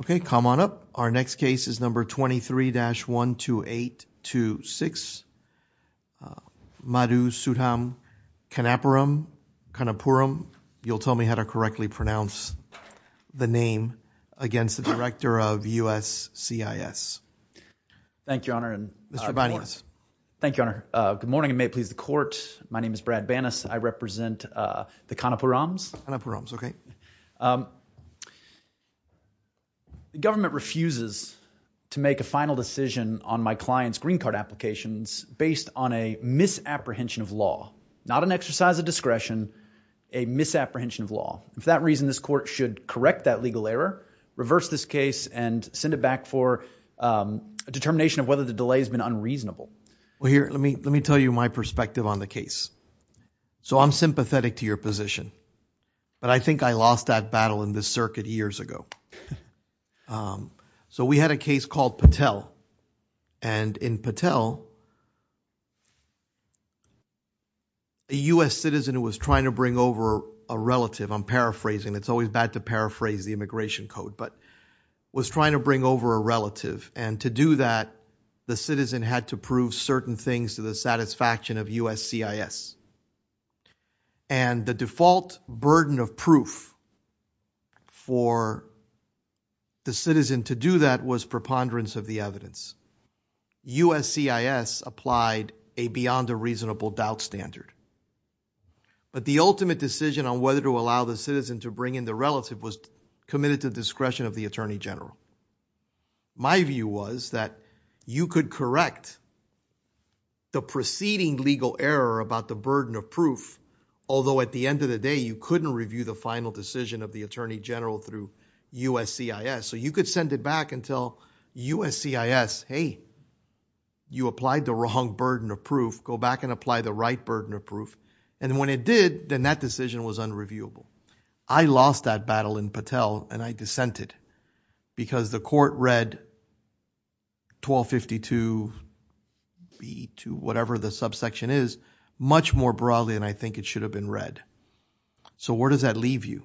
Okay, come on up. Our next case is number 23-12826 Madhu Sudham Kanapuram. Kanapuram, you'll tell me how to correctly pronounce the name against the director of USCIS. Thank you, your honor. And Mr. Banias. Thank you, your honor. Good morning and may it please the court. My name is Brad Banas. I represent the Kanapurams. Kanapurams, okay. The government refuses to make a final decision on my client's green card applications based on a misapprehension of law. Not an exercise of discretion, a misapprehension of law. For that reason, this court should correct that legal error, reverse this case and send it back for a determination of whether the delay has been unreasonable. Well, here, let me tell you my perspective on the case. So I'm sympathetic to your position, but I think I lost that battle in this circuit years ago. So we had a case called Patel and in Patel, a US citizen who was trying to bring over a relative, I'm paraphrasing, it's always bad to paraphrase the immigration code, but was trying to bring over a relative. And to do that, the citizen had to prove certain things to the satisfaction of USCIS. And the default burden of proof for the citizen to do that was preponderance of the evidence. USCIS applied a beyond a reasonable doubt standard. But the ultimate decision on whether to allow the citizen to bring in the relative was committed to the discretion of the Attorney General. My view was that you could correct the preceding legal error about the burden of proof, although at the end of the day, you couldn't review the final decision of the Attorney General through USCIS. So you could send it back and tell USCIS, hey, you applied the wrong burden of proof, go back and apply the right burden of proof. And when it did, then that decision was unreviewable. I lost that battle in Patel and I dissented because the court read 1252B2, whatever the subsection is, much more broadly than I think it should have been read. So where does that leave you?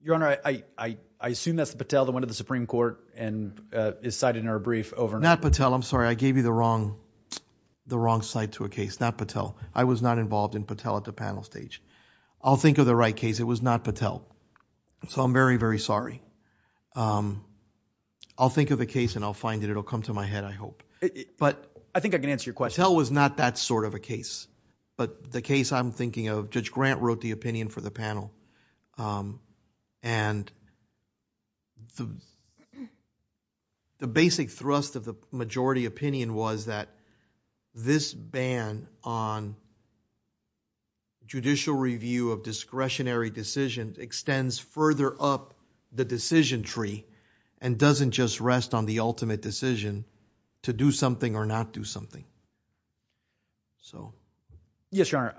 Your Honor, I assume that's the Patel that went to the Supreme Court and is cited in our brief overnight. Not Patel, I'm sorry. I gave you the wrong side to a case, not Patel. I was not involved in Patel at the panel stage. I'll think of the right case. It was not Patel. So I'm very, very sorry. Um, I'll think of a case and I'll find it. It'll come to my head, I hope. But I think I can answer your question. Patel was not that sort of a case. But the case I'm thinking of, Judge Grant wrote the opinion for the panel. And the basic thrust of the majority opinion was that this ban on judicial review of discretionary decisions extends further up the decision tree and doesn't just rest on the ultimate decision to do something or not do something. So, yes, Your Honor,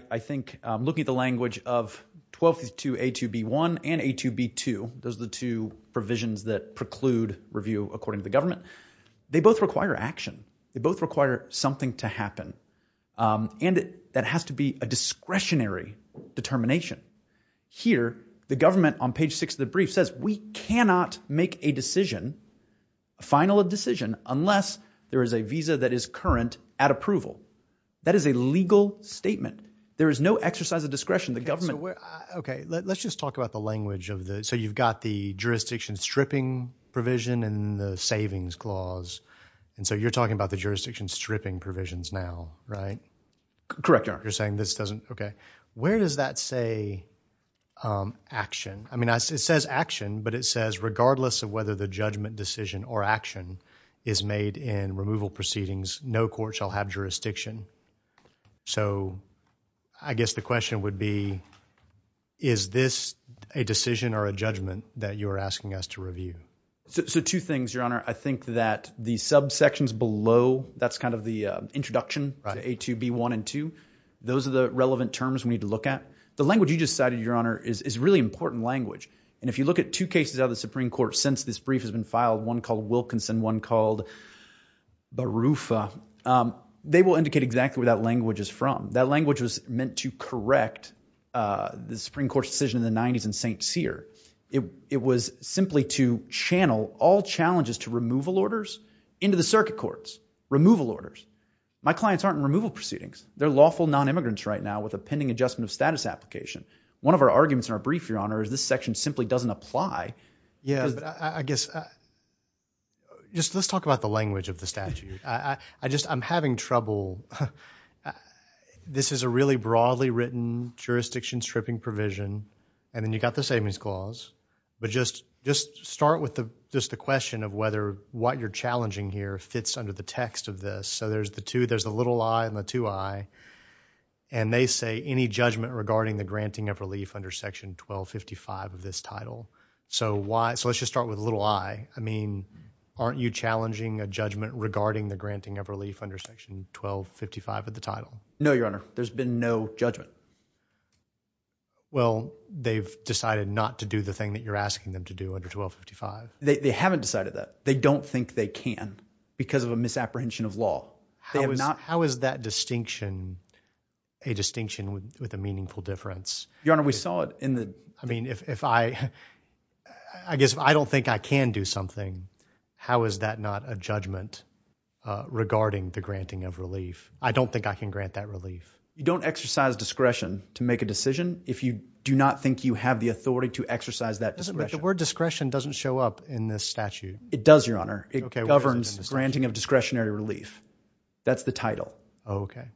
I think looking at the language of 1252A2B1 and A2B2, those are the two provisions that preclude review according to the government. They both require action. They both require something to happen. And that has to be a discretionary determination. Here, the government on page six of the brief says, we cannot make a decision, a final decision, unless there is a visa that is current at approval. That is a legal statement. There is no exercise of discretion. The government... Okay, let's just talk about the language of the... So you've got the jurisdiction stripping provision and the savings clause. And so you're talking about the jurisdiction stripping provisions now. Right? Correct, Your Honor. You're saying this doesn't... Okay. Where does that say action? I mean, it says action, but it says, regardless of whether the judgment decision or action is made in removal proceedings, no court shall have jurisdiction. So I guess the question would be, is this a decision or a judgment that you're asking us to review? So two things, Your Honor. I think that the subsections below, that's kind of the introduction. A2, B1, and 2. Those are the relevant terms we need to look at. The language you just cited, Your Honor, is really important language. And if you look at two cases out of the Supreme Court, since this brief has been filed, one called Wilkinson, one called Barufa, they will indicate exactly where that language is from. That language was meant to correct the Supreme Court's decision in the 90s in St. Cyr. It was simply to channel all challenges to removal orders into the circuit courts, removal orders. My clients aren't in removal proceedings. They're lawful non-immigrants right now with a pending adjustment of status application. One of our arguments in our brief, Your Honor, is this section simply doesn't apply. Yeah, I guess, just let's talk about the language of the statute. I just, I'm having trouble. This is a really broadly written jurisdiction stripping provision. And then you got the savings clause. But just start with just the question of whether what you're challenging here fits under the text of this There's the little I and the two I. And they say any judgment regarding the granting of relief under section 1255 of this title. So let's just start with little I. I mean, aren't you challenging a judgment regarding the granting of relief under section 1255 of the title? No, Your Honor. There's been no judgment. Well, they've decided not to do the thing that you're asking them to do under 1255. They haven't decided that. They don't think they can because of a misapprehension of law. How is that distinction a distinction with a meaningful difference? Your Honor, we saw it in the... I mean, if I, I guess I don't think I can do something. How is that not a judgment regarding the granting of relief? I don't think I can grant that relief. You don't exercise discretion to make a decision if you do not think you have the authority to exercise that discretion. But the word discretion doesn't show up in this statute. It does, Your Honor. It governs granting of discretionary relief. That's the title. Oh, okay.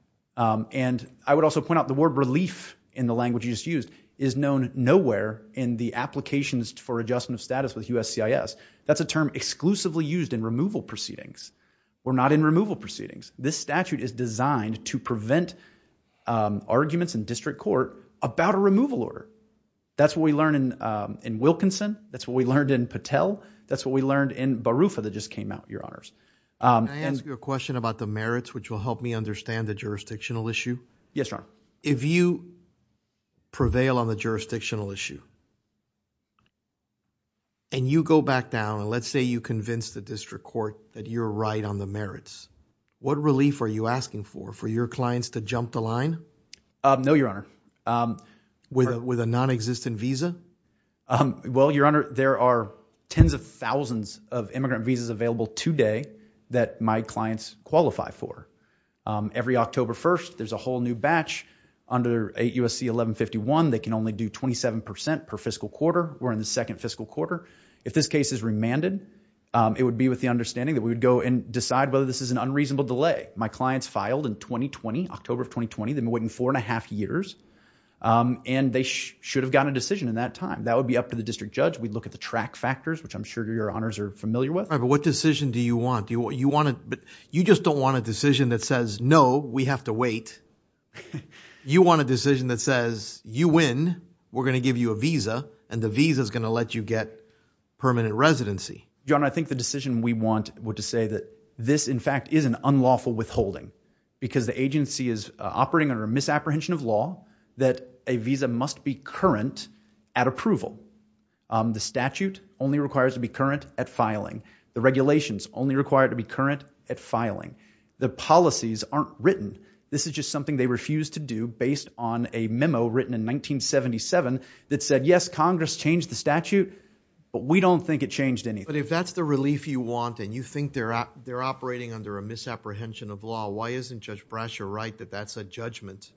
And I would also point out the word relief in the language you just used is known nowhere in the applications for adjustment of status with USCIS. That's a term exclusively used in removal proceedings. We're not in removal proceedings. This statute is designed to prevent arguments in district court about a removal order. That's what we learned in Wilkinson. That's what we learned in Patel. That's what we learned in Barufa that just came out, Your Honors. Can I ask you a question about the merits, which will help me understand the jurisdictional issue? Yes, Your Honor. If you prevail on the jurisdictional issue and you go back down, and let's say you convince the district court that you're right on the merits, what relief are you asking for? For your clients to jump the line? No, Your Honor. With a non-existent visa? Well, Your Honor, there are tens of thousands of immigrant visas available today that my clients qualify for. Every October 1st, there's a whole new batch under 8 USC 1151. They can only do 27% per fiscal quarter. We're in the second fiscal quarter. If this case is remanded, it would be with the understanding that we would go and decide whether this is an unreasonable delay. My clients filed in 2020, October of 2020. They've been waiting four and a half years, and they should have gotten a decision in that time. That would be up to the district judge. We'd look at the track factors, which I'm sure Your Honors are familiar with. But what decision do you want? You just don't want a decision that says, no, we have to wait. You want a decision that says, you win, we're going to give you a visa, and the visa is going to let you get permanent residency. Your Honor, I think the decision we want would to say that this in fact is an unlawful withholding. Because the agency is operating under a misapprehension of law that a visa must be current at approval. The statute only requires to be current at filing. Regulations only required to be current at filing. The policies aren't written. This is just something they refused to do based on a memo written in 1977 that said, yes, Congress changed the statute, but we don't think it changed anything. But if that's the relief you want, and you think they're operating under a misapprehension of law, why isn't Judge Brasher right that that's a judgment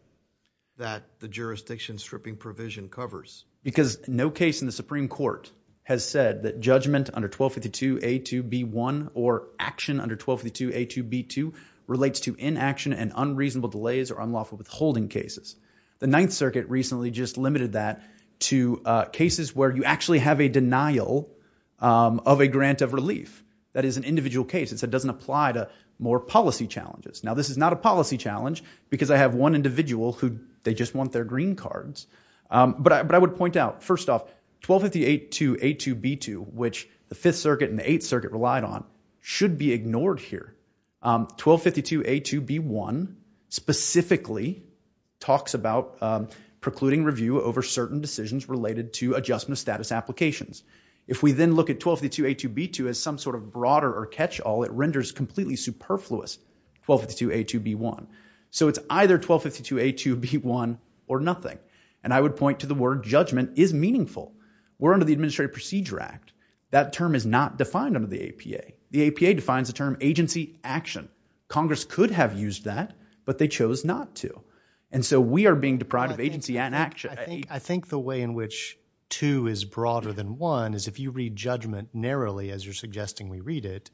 that the jurisdiction stripping provision covers? Because no case in the Supreme Court has said that judgment under 1252A2B1 or action under 1252A2B2 relates to inaction and unreasonable delays or unlawful withholding cases. The Ninth Circuit recently just limited that to cases where you actually have a denial of a grant of relief. That is an individual case. It doesn't apply to more policy challenges. Now, this is not a policy challenge because I have one individual who they just want their green cards. But I would point out, first off, 1252A2B2, which the Fifth Circuit and the Eighth Circuit relied on, should be ignored here. 1252A2B1 specifically talks about precluding review over certain decisions related to adjustment of status applications. If we then look at 1252A2B2 as some sort of broader or catch-all, it renders completely superfluous 1252A2B1. So it's either 1252A2B1 or nothing. And I would point to the word judgment is meaningful. We're under the Administrative Procedure Act. That term is not defined under the APA. The APA defines the term agency action. Congress could have used that, but they chose not to. And so we are being deprived of agency and action. I think the way in which two is broader than one is if you read judgment narrowly, as you're suggesting we read it,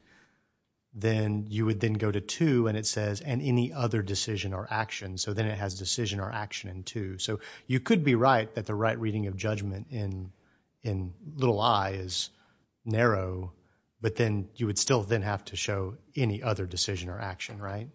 then you would then go to two and it says, and any other decision or action. So then it has decision or action in two. So you could be right that the right reading of judgment in little I is narrow, but then you would still then have to show any other decision or action, right?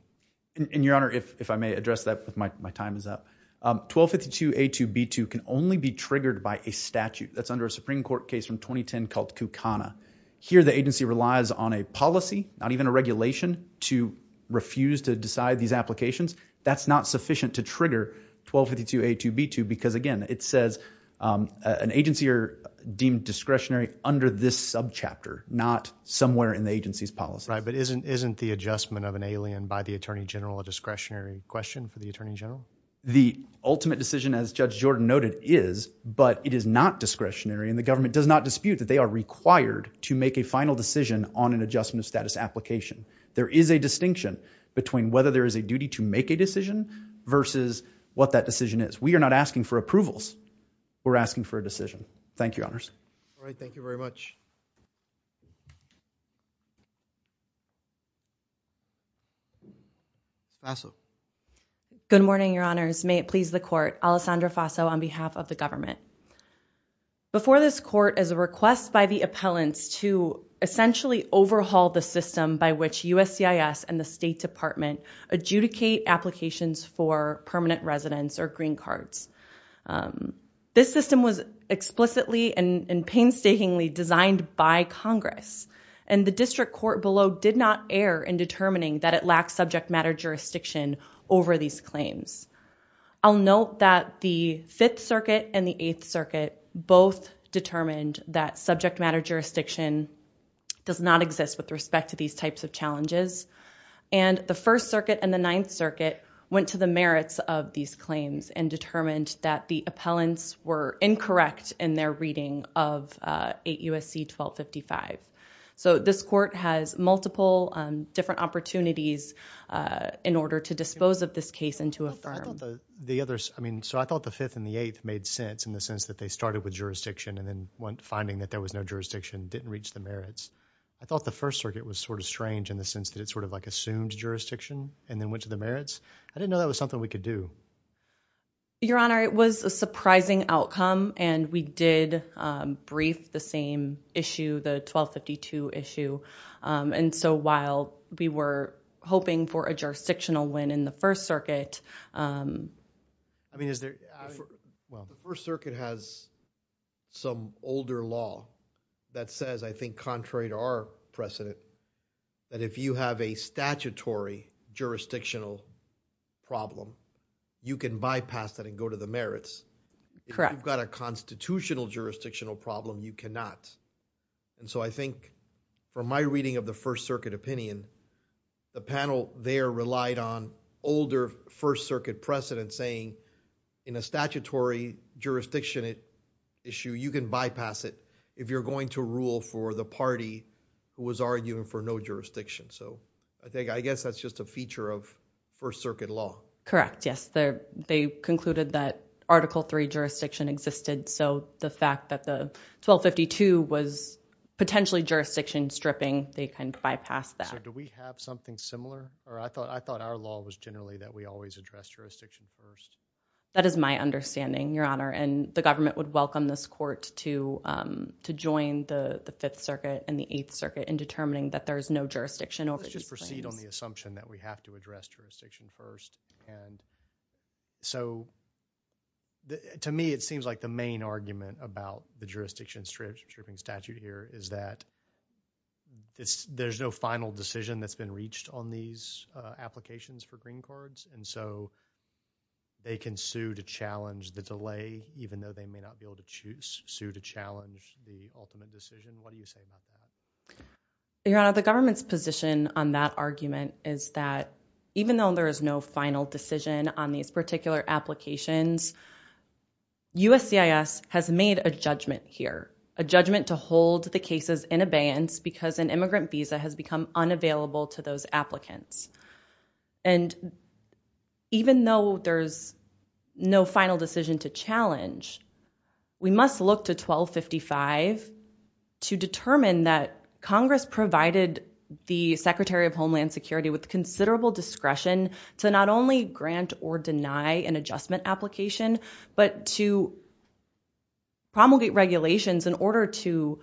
And your Honor, if I may address that, if my time is up, 1252A2B2 can only be triggered by a statute that's under a Supreme Court case from 2010 called Kukana. Here, the agency relies on a policy, not even a regulation, to refuse to decide these applications. That's not sufficient to trigger 1252A2B2 because again, it says an agency or deemed discretionary under this subchapter, not somewhere in the agency's policy. Right, but isn't the adjustment of an alien by the Attorney General a discretionary question for the Attorney General? The ultimate decision as Judge Jordan noted is, but it is not discretionary and the government does not dispute that they are required to make a final decision on an adjustment of status application. There is a distinction between whether there is a duty to make a decision versus what that decision is. We are not asking for approvals, we're asking for a decision. Thank you, Your Honors. All right, thank you very much. Faso. Good morning, Your Honors. May it please the court, Alessandra Faso on behalf of the government. Before this court is a request by the appellants to essentially overhaul the system by which USCIS and the State Department adjudicate applications for permanent residence or green cards. This system was explicitly and painstakingly designed by Congress and the district court below did not err in determining that it lacks subject matter jurisdiction over these claims. I'll note that the Fifth Circuit and the Eighth Circuit both determined that subject matter jurisdiction does not exist with respect to these types of challenges. And the First Circuit and the Ninth Circuit went to the merits of these claims and determined that the appellants were incorrect in their reading of 8 U.S.C. 1255. So this court has multiple different opportunities in order to dispose of this case and to affirm. I thought the others, I mean, so I thought the Fifth and the Eighth made sense in the sense that they started with jurisdiction and then went finding that there was no jurisdiction, didn't reach the merits. I thought the First Circuit was sort of strange in the sense that it sort of like assumed jurisdiction and then went to the merits. I didn't know that was something we could do. Your Honor, it was a surprising outcome and we did brief the same issue, the 1252 issue. And so while we were hoping for a jurisdictional win in the First Circuit. I mean, is there, well. The First Circuit has some older law that says I think contrary to our precedent that if you have a statutory jurisdictional problem, you can bypass that and go to the merits. If you've got a constitutional jurisdictional problem, you cannot. And so I think from my reading of the First Circuit opinion, the panel there relied on older First Circuit precedent saying in a statutory jurisdiction issue, you can bypass it if you're going to rule for the party who was arguing for no jurisdiction. So I think, I guess that's just a feature of First Circuit law. Correct, yes. They concluded that Article III jurisdiction existed. So the fact that the 1252 was potentially jurisdiction stripping, they can bypass that. So do we have something similar? Or I thought our law was generally that we always address jurisdiction first. That is my understanding, Your Honor. And the government would welcome this court to join the Fifth Circuit and the Eighth Circuit in determining that there is no jurisdiction over these things. Let's just proceed on the assumption that we have to address jurisdiction first. And so to me, it seems like the main argument about the jurisdiction stripping statute here is that there's no final decision that's been reached on these applications for green cards. And so they can sue to challenge the delay, even though they may not be able to choose, sue to challenge the ultimate decision. What do you say about that? Your Honor, the government's position on that argument is that even though there is no final decision on these particular applications, USCIS has made a judgment here, a judgment to hold the cases in abeyance because an immigrant visa has become unavailable to those applicants. And even though there's no final decision to challenge, we must look to 1255 to determine that Congress provided the Secretary of Homeland Security with considerable discretion to not only grant or deny an adjustment application, but to promulgate regulations in order to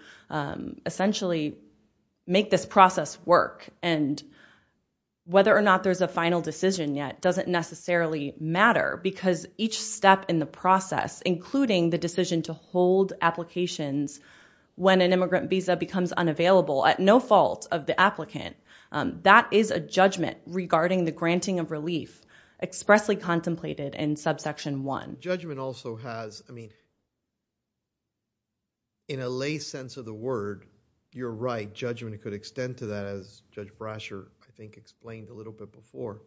essentially make this process work. And whether or not there's a final decision yet doesn't necessarily matter because each step in the process, including the decision to hold applications when an immigrant visa becomes unavailable at no fault of the applicant, that is a judgment regarding the granting of relief expressly contemplated in subsection one. Judgment also has, I mean, in a lay sense of the word, you're right. Judgment could extend to that as Judge Brasher, I think, explained a little bit before.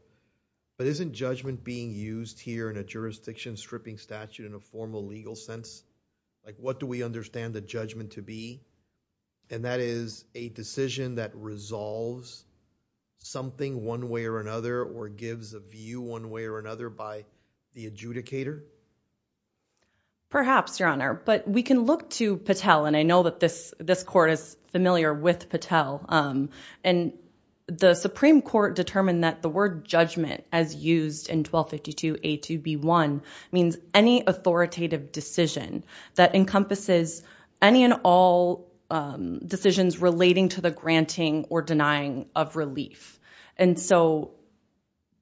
But isn't judgment being used here in a jurisdiction stripping statute in a formal legal sense? Like what do we understand the judgment to be? And that is a decision that resolves something one way or another or gives a view one way or another by the adjudicator? Perhaps, Your Honor, but we can look to Patel and I know that this court is familiar with Patel. And the Supreme Court determined that the word judgment as used in 1252 A2B1 means any authoritative decision that encompasses any and all decisions relating to the granting or denying of relief. And so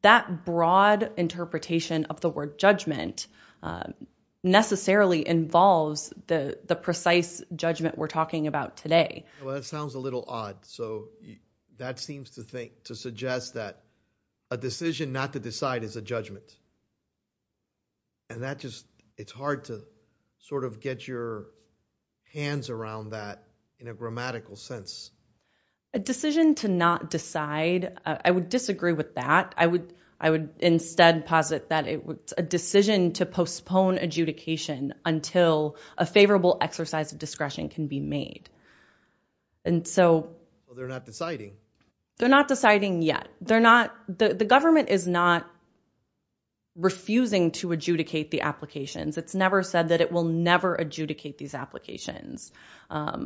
that broad interpretation of the word judgment necessarily involves the precise judgment we're talking about today. Well, that sounds a little odd. So that seems to suggest that a decision not to decide is a judgment. And that just, it's hard to sort of get your hands around that in a grammatical sense. A decision to not decide, I would disagree with that. I would instead posit that it was a decision to postpone adjudication until a favorable exercise of discretion can be made. And so- Well, they're not deciding. They're not deciding yet. They're not, the government is not refusing to adjudicate the applications. It's never said that it will never adjudicate these applications.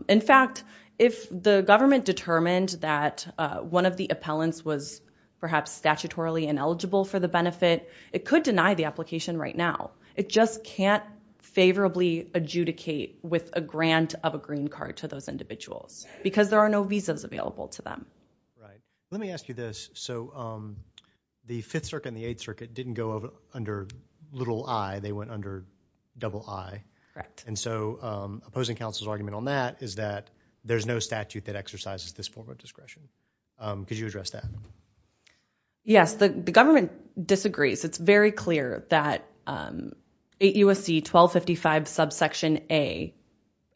In fact, if the government determined that one of the appellants was perhaps statutorily ineligible for the benefit, it could deny the application right now. It just can't favorably adjudicate with a grant of a green card to those individuals because there are no visas available to them. Right. Let me ask you this. So the Fifth Circuit and the Eighth Circuit didn't go under little I, they went under double I. Correct. And so opposing counsel's argument on that is that there's no statute that exercises this form of discretion. Could you address that? Yes, the government disagrees. It's very clear that 8 U.S.C. 1255 subsection A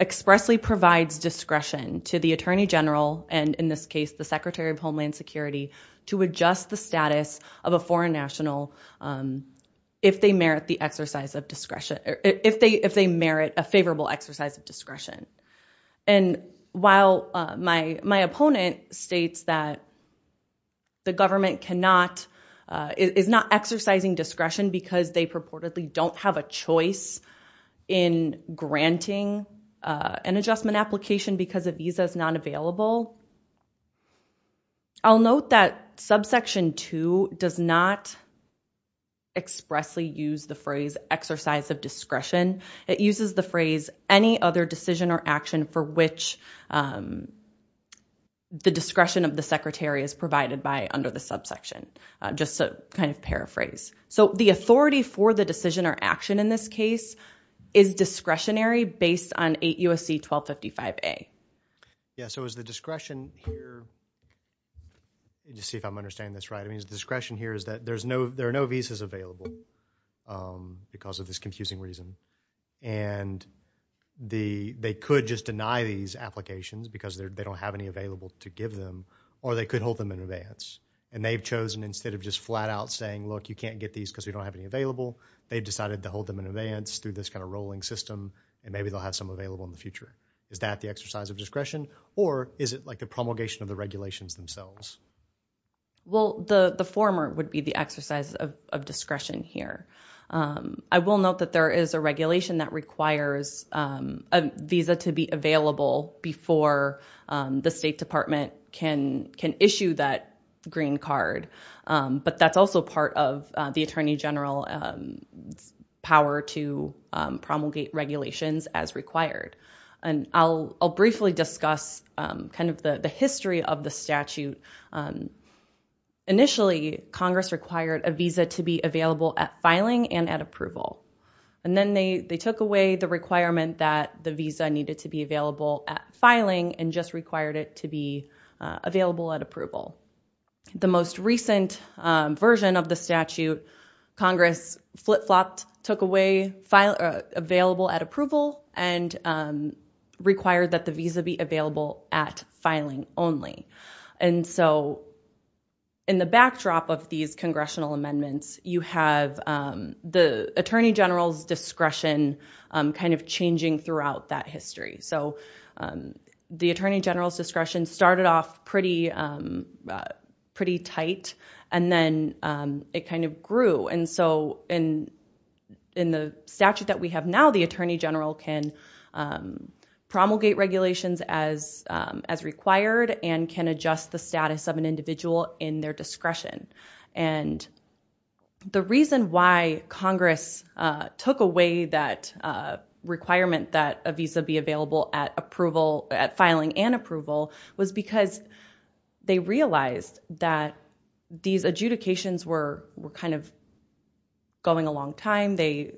expressly provides discretion to the attorney general and in this case, the Secretary of Homeland Security to adjust the status of a foreign national if they merit the exercise of discretion, or if they merit a favorable exercise of discretion. And while my opponent states that the government is not exercising discretion because they purportedly don't have a choice in granting an adjustment application because a visa is not available, I'll note that subsection two does not expressly use the phrase exercise of discretion. It uses the phrase any other decision or action for which the discretion of the Secretary is provided by under the subsection. Just to kind of paraphrase. So the authority for the decision or action in this case is discretionary based on 8 U.S.C. 1255 A. Yeah, so is the discretion here, let me just see if I'm understanding this right. I mean, is the discretion here is that there are no visas available because of this confusing reason. And they could just deny these applications because they don't have any available to give them, or they could hold them in advance. And they've chosen instead of just flat out saying, look, you can't get these because we don't have any available. They've decided to hold them in advance through this kind of rolling system. And maybe they'll have some available in the future. Is that the exercise of discretion? Or is it like the promulgation of the regulations themselves? Well, the former would be the exercise of discretion here. I will note that there is a regulation that requires a visa to be available before the State Department can issue that green card. But that's also part of the Attorney General's power to promulgate regulations as required. And I'll briefly discuss kind of the history of the statute. Initially, Congress required a visa to be available at filing and at approval. And then they took away the requirement that the visa needed to be available at filing and just required it to be available at approval. The most recent version of the statute, Congress flip-flopped, took away available at approval and required that the visa be available at filing only. And so in the backdrop of these congressional amendments, you have the Attorney General's discretion kind of changing throughout that history. So the Attorney General's discretion started off pretty tight, and then it kind of grew. And so in the statute that we have now, the Attorney General can promulgate regulations as required and can adjust the status of an individual in their discretion. And the reason why Congress took away that requirement that a visa be available at filing and approval was because they realized that these adjudications were kind of going a long time. They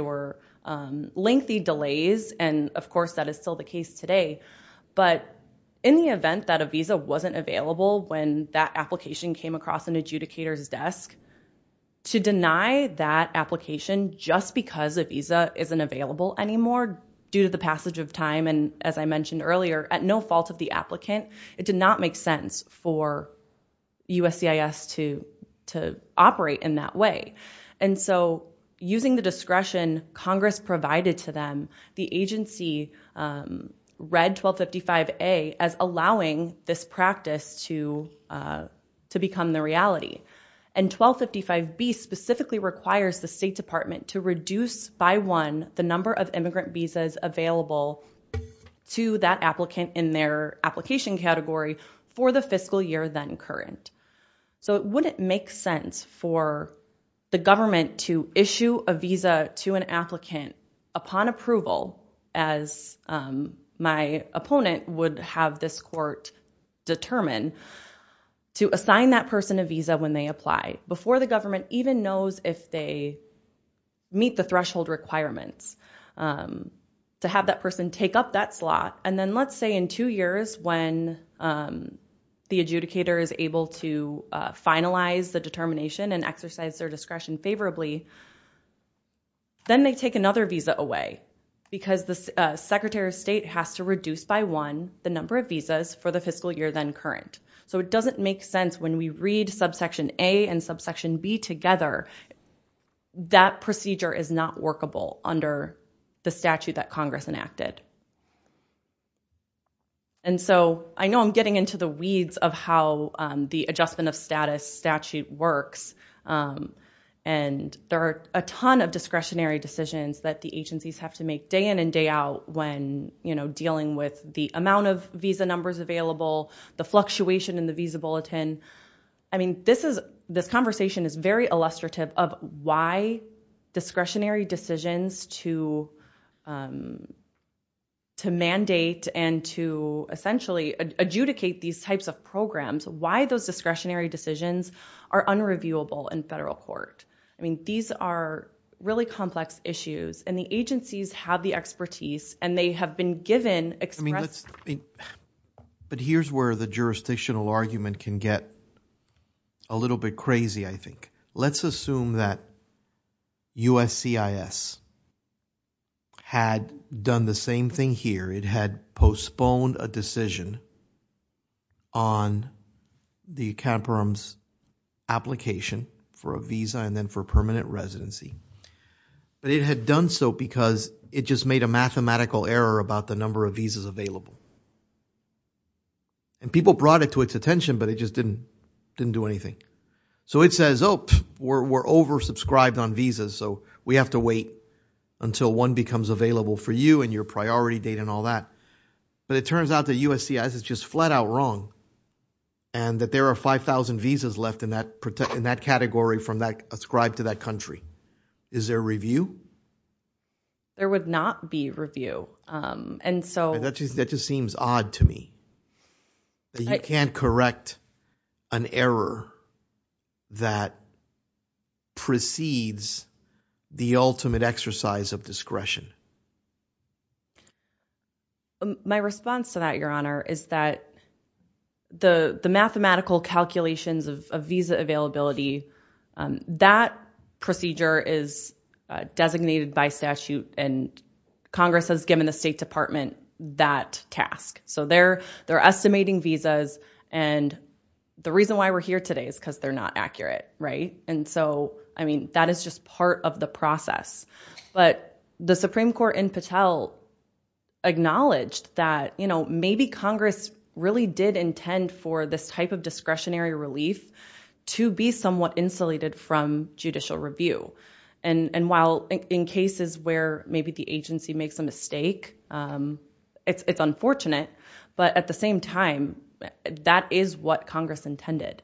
were lengthy delays. And of course, that is still the case today. But in the event that a visa wasn't available when that application came across an adjudicator's desk, to deny that application just because a visa isn't available anymore due to the passage of time, and as I mentioned earlier, at no fault of the applicant, it did not make sense for USCIS to operate in that way. And so using the discretion Congress provided to them, the agency read 1255A as allowing this practice to become the reality. And 1255B specifically requires the State Department to reduce by one the number of immigrant visas available to that applicant in their application category for the fiscal year then current. So it wouldn't make sense for the government to issue a visa to an applicant upon approval as my opponent would have this court determine to assign that person a visa when they apply before the government even knows if they meet the threshold requirements to have that person take up that slot. And then let's say in two years when the adjudicator is able to finalize the determination and exercise their discretion favorably, then they take another visa away because the Secretary of State has to reduce by one the number of visas for the fiscal year then current. So it doesn't make sense when we read subsection A and subsection B together, that procedure is not workable under the statute that Congress enacted. And so I know I'm getting into the weeds of how the adjustment of status statute works. And there are a ton of discretionary decisions that the agencies have to make day in and day out when dealing with the amount of visa numbers available, the fluctuation in the visa bulletin. I mean, this conversation is very illustrative of why discretionary decisions to mandate and to essentially adjudicate these types of programs, why those discretionary decisions are unreviewable in federal court. I mean, these are really complex issues and the agencies have the expertise and they have been given expressed. I mean, but here's where the jurisdictional argument can get a little bit crazy, I think. Let's assume that USCIS had done the same thing here. It had postponed a decision on the Caterpillar's application for a visa and then for permanent residency. But it had done so because it just made a mathematical error about the number of visas available. And people brought it to its attention, but it just didn't do anything. So it says, oh, we're oversubscribed on visas. So we have to wait until one becomes available for you and your priority date and all that. But it turns out that USCIS is just flat out wrong and that there are 5,000 visas left in that category from that ascribed to that country. Is there review? There would not be review. And so that just seems odd to me. You can't correct an error that precedes the ultimate exercise of discretion. My response to that, Your Honor, is that the mathematical calculations of visa availability, that procedure is designated by statute and Congress has given the State Department that task. So they're estimating visas. And the reason why we're here today is because they're not accurate, right? And so, I mean, that is just part of the process. But the Supreme Court in Patel acknowledged that maybe Congress really did intend for this type of discretionary relief to be somewhat insulated from judicial review. And while in cases where maybe the agency makes a mistake, it's unfortunate. But at the same time, that is what Congress intended.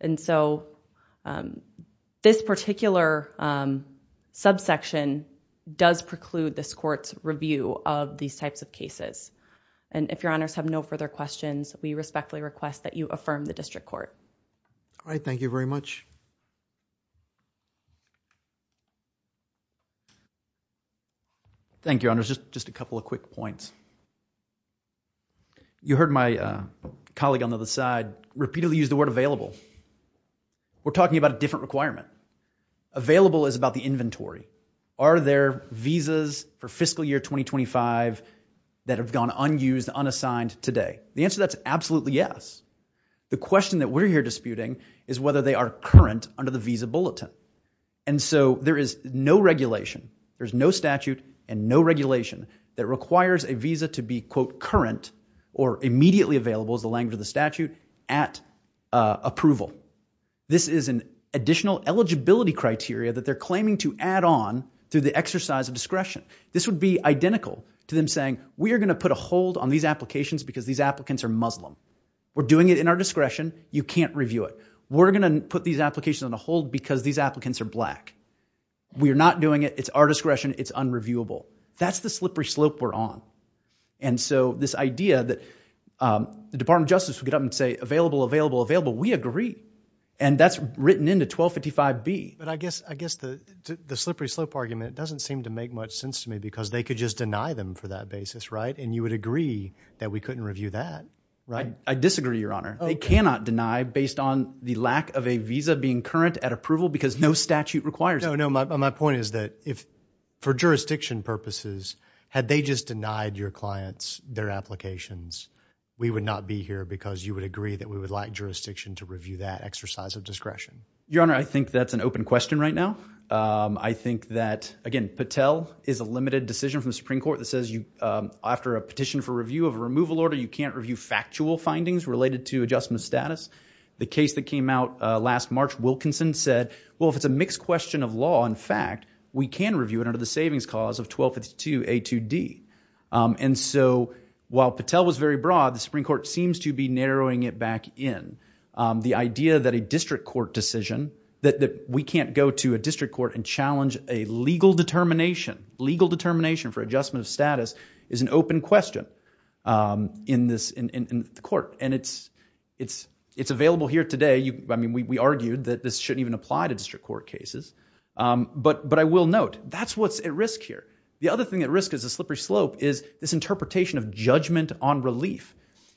And so this particular subsection does preclude this court's review of these types of cases. And if Your Honors have no further questions, we respectfully request that you affirm the district court. All right. Thank you very much. Thank you, Your Honors. Just a couple of quick points. You heard my colleague on the other side repeatedly use the word available. We're talking about a different requirement. Available is about the inventory. Are there visas for fiscal year 2025 that have gone unused, unassigned today? The answer to that is absolutely yes. The question that we're here disputing is whether they are current under the visa bulletin. And so there is no regulation, there's no statute and no regulation that requires a visa to be, quote, current or immediately available is the language of the statute at approval. This is an additional eligibility criteria that they're claiming to add on through the exercise of discretion. This would be identical to them saying, we are going to put a hold on these applications because these applicants are Muslim. We're doing it in our discretion. You can't review it. We're going to put these applications on a hold because these applicants are black. We are not doing it. It's our discretion. It's unreviewable. That's the slippery slope we're on. And so this idea that the Department of Justice would get up and say, available, available, available, we agree. And that's written into 1255B. But I guess the slippery slope argument doesn't seem to make much sense to me because they could just deny them for that basis, right? And you would agree that we couldn't review that, right? I disagree, Your Honor. They cannot deny based on the lack of a visa being current at approval because no statute requires it. No, no, my point is that if for jurisdiction purposes, had they just denied your clients their applications, we would not be here because you would agree that we would like jurisdiction to review that exercise of discretion. Your Honor, I think that's an open question right now. I think that, again, Patel is a limited decision from the Supreme Court that says after a petition for review of a removal order, you can't review factual findings related to adjustment status. The case that came out last March, Wilkinson said, well, if it's a mixed question of law, in fact, we can review it under the savings cause of 1252A2D. And so while Patel was very broad, the Supreme Court seems to be narrowing it back in. The idea that a district court decision, that we can't go to a district court and challenge a legal determination, legal determination for adjustment of status, is an open question in the court. And it's available here today. I mean, we argued that this shouldn't even apply to district court cases. But I will note, that's what's at risk here. The other thing at risk is a slippery slope, is this interpretation of judgment on relief.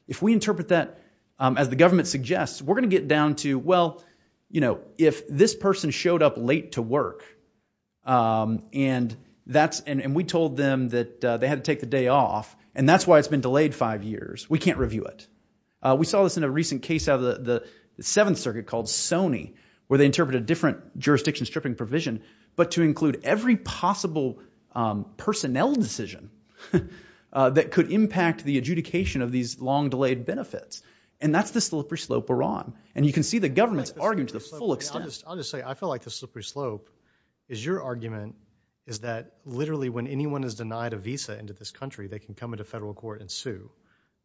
If we interpret that as the government suggests, we're going to get down to, well, if this person showed up late to work, and we told them that they had to take the day off, and that's why it's been delayed five years, we can't review it. We saw this in a recent case out of the Seventh Circuit called Sony, where they interpreted a different jurisdiction stripping provision, but to include every possible personnel decision that could impact the adjudication of these long-delayed benefits. And that's the slippery slope we're on. And you can see the government's arguing to the full extent. I'll just say, I feel like the slippery slope is your argument, is that literally, when anyone is denied a visa into this country, they can come into federal court and sue.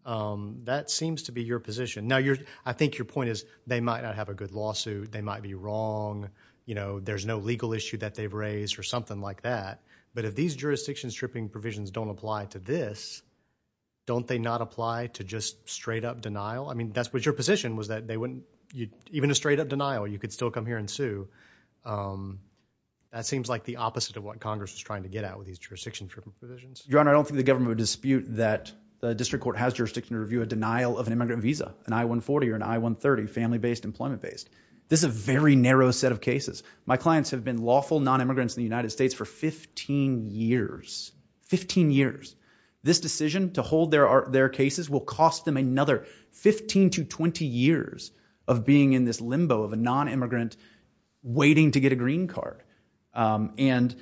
That seems to be your position. Now, I think your point is, they might not have a good lawsuit. They might be wrong. There's no legal issue that they've raised, or something like that. But if these jurisdiction stripping provisions don't apply to this, don't they not apply to just straight-up denial? I mean, that's what your position was, that they wouldn't, even a straight-up denial, you could still come here and sue. That seems like the opposite of what Congress was trying to get at with these jurisdiction stripping provisions. Your Honor, I don't think the government would dispute that the district court has jurisdiction to review a denial of an immigrant visa, an I-140 or an I-130, family-based, employment-based. This is a very narrow set of cases. My clients have been lawful non-immigrants in the United States for 15 years, 15 years. This decision to hold their cases will cost them another 15 to 20 years of being in this limbo of a non-immigrant waiting to get a green card. And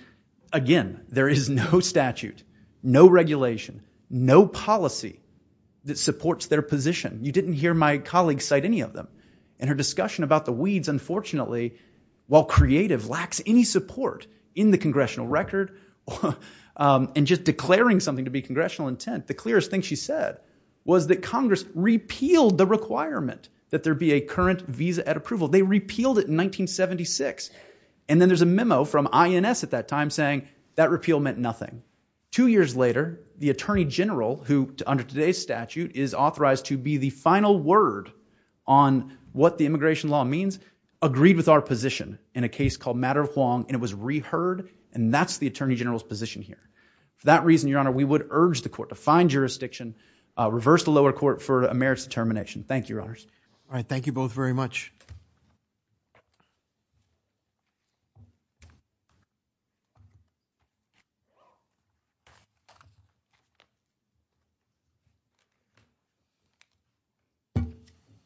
again, there is no statute, no regulation, no policy that supports their position. You didn't hear my colleague cite any of them and her discussion about the weeds, unfortunately, while creative, lacks any support in the congressional record. And just declaring something to be congressional intent, the clearest thing she said was that Congress repealed the requirement that there be a current visa at approval. They repealed it in 1976. And then there's a memo from INS at that time saying that repeal meant nothing. Two years later, the attorney general, who under today's statute is authorized to be the final word on what the immigration law means, agreed with our position in a case called Matter of Huang and it was reheard. And that's the attorney general's position here. For that reason, Your Honor, we would urge the court to find jurisdiction, reverse the lower court for a merits determination. Thank you, Your Honors. All right. Thank you both very much. Thank you.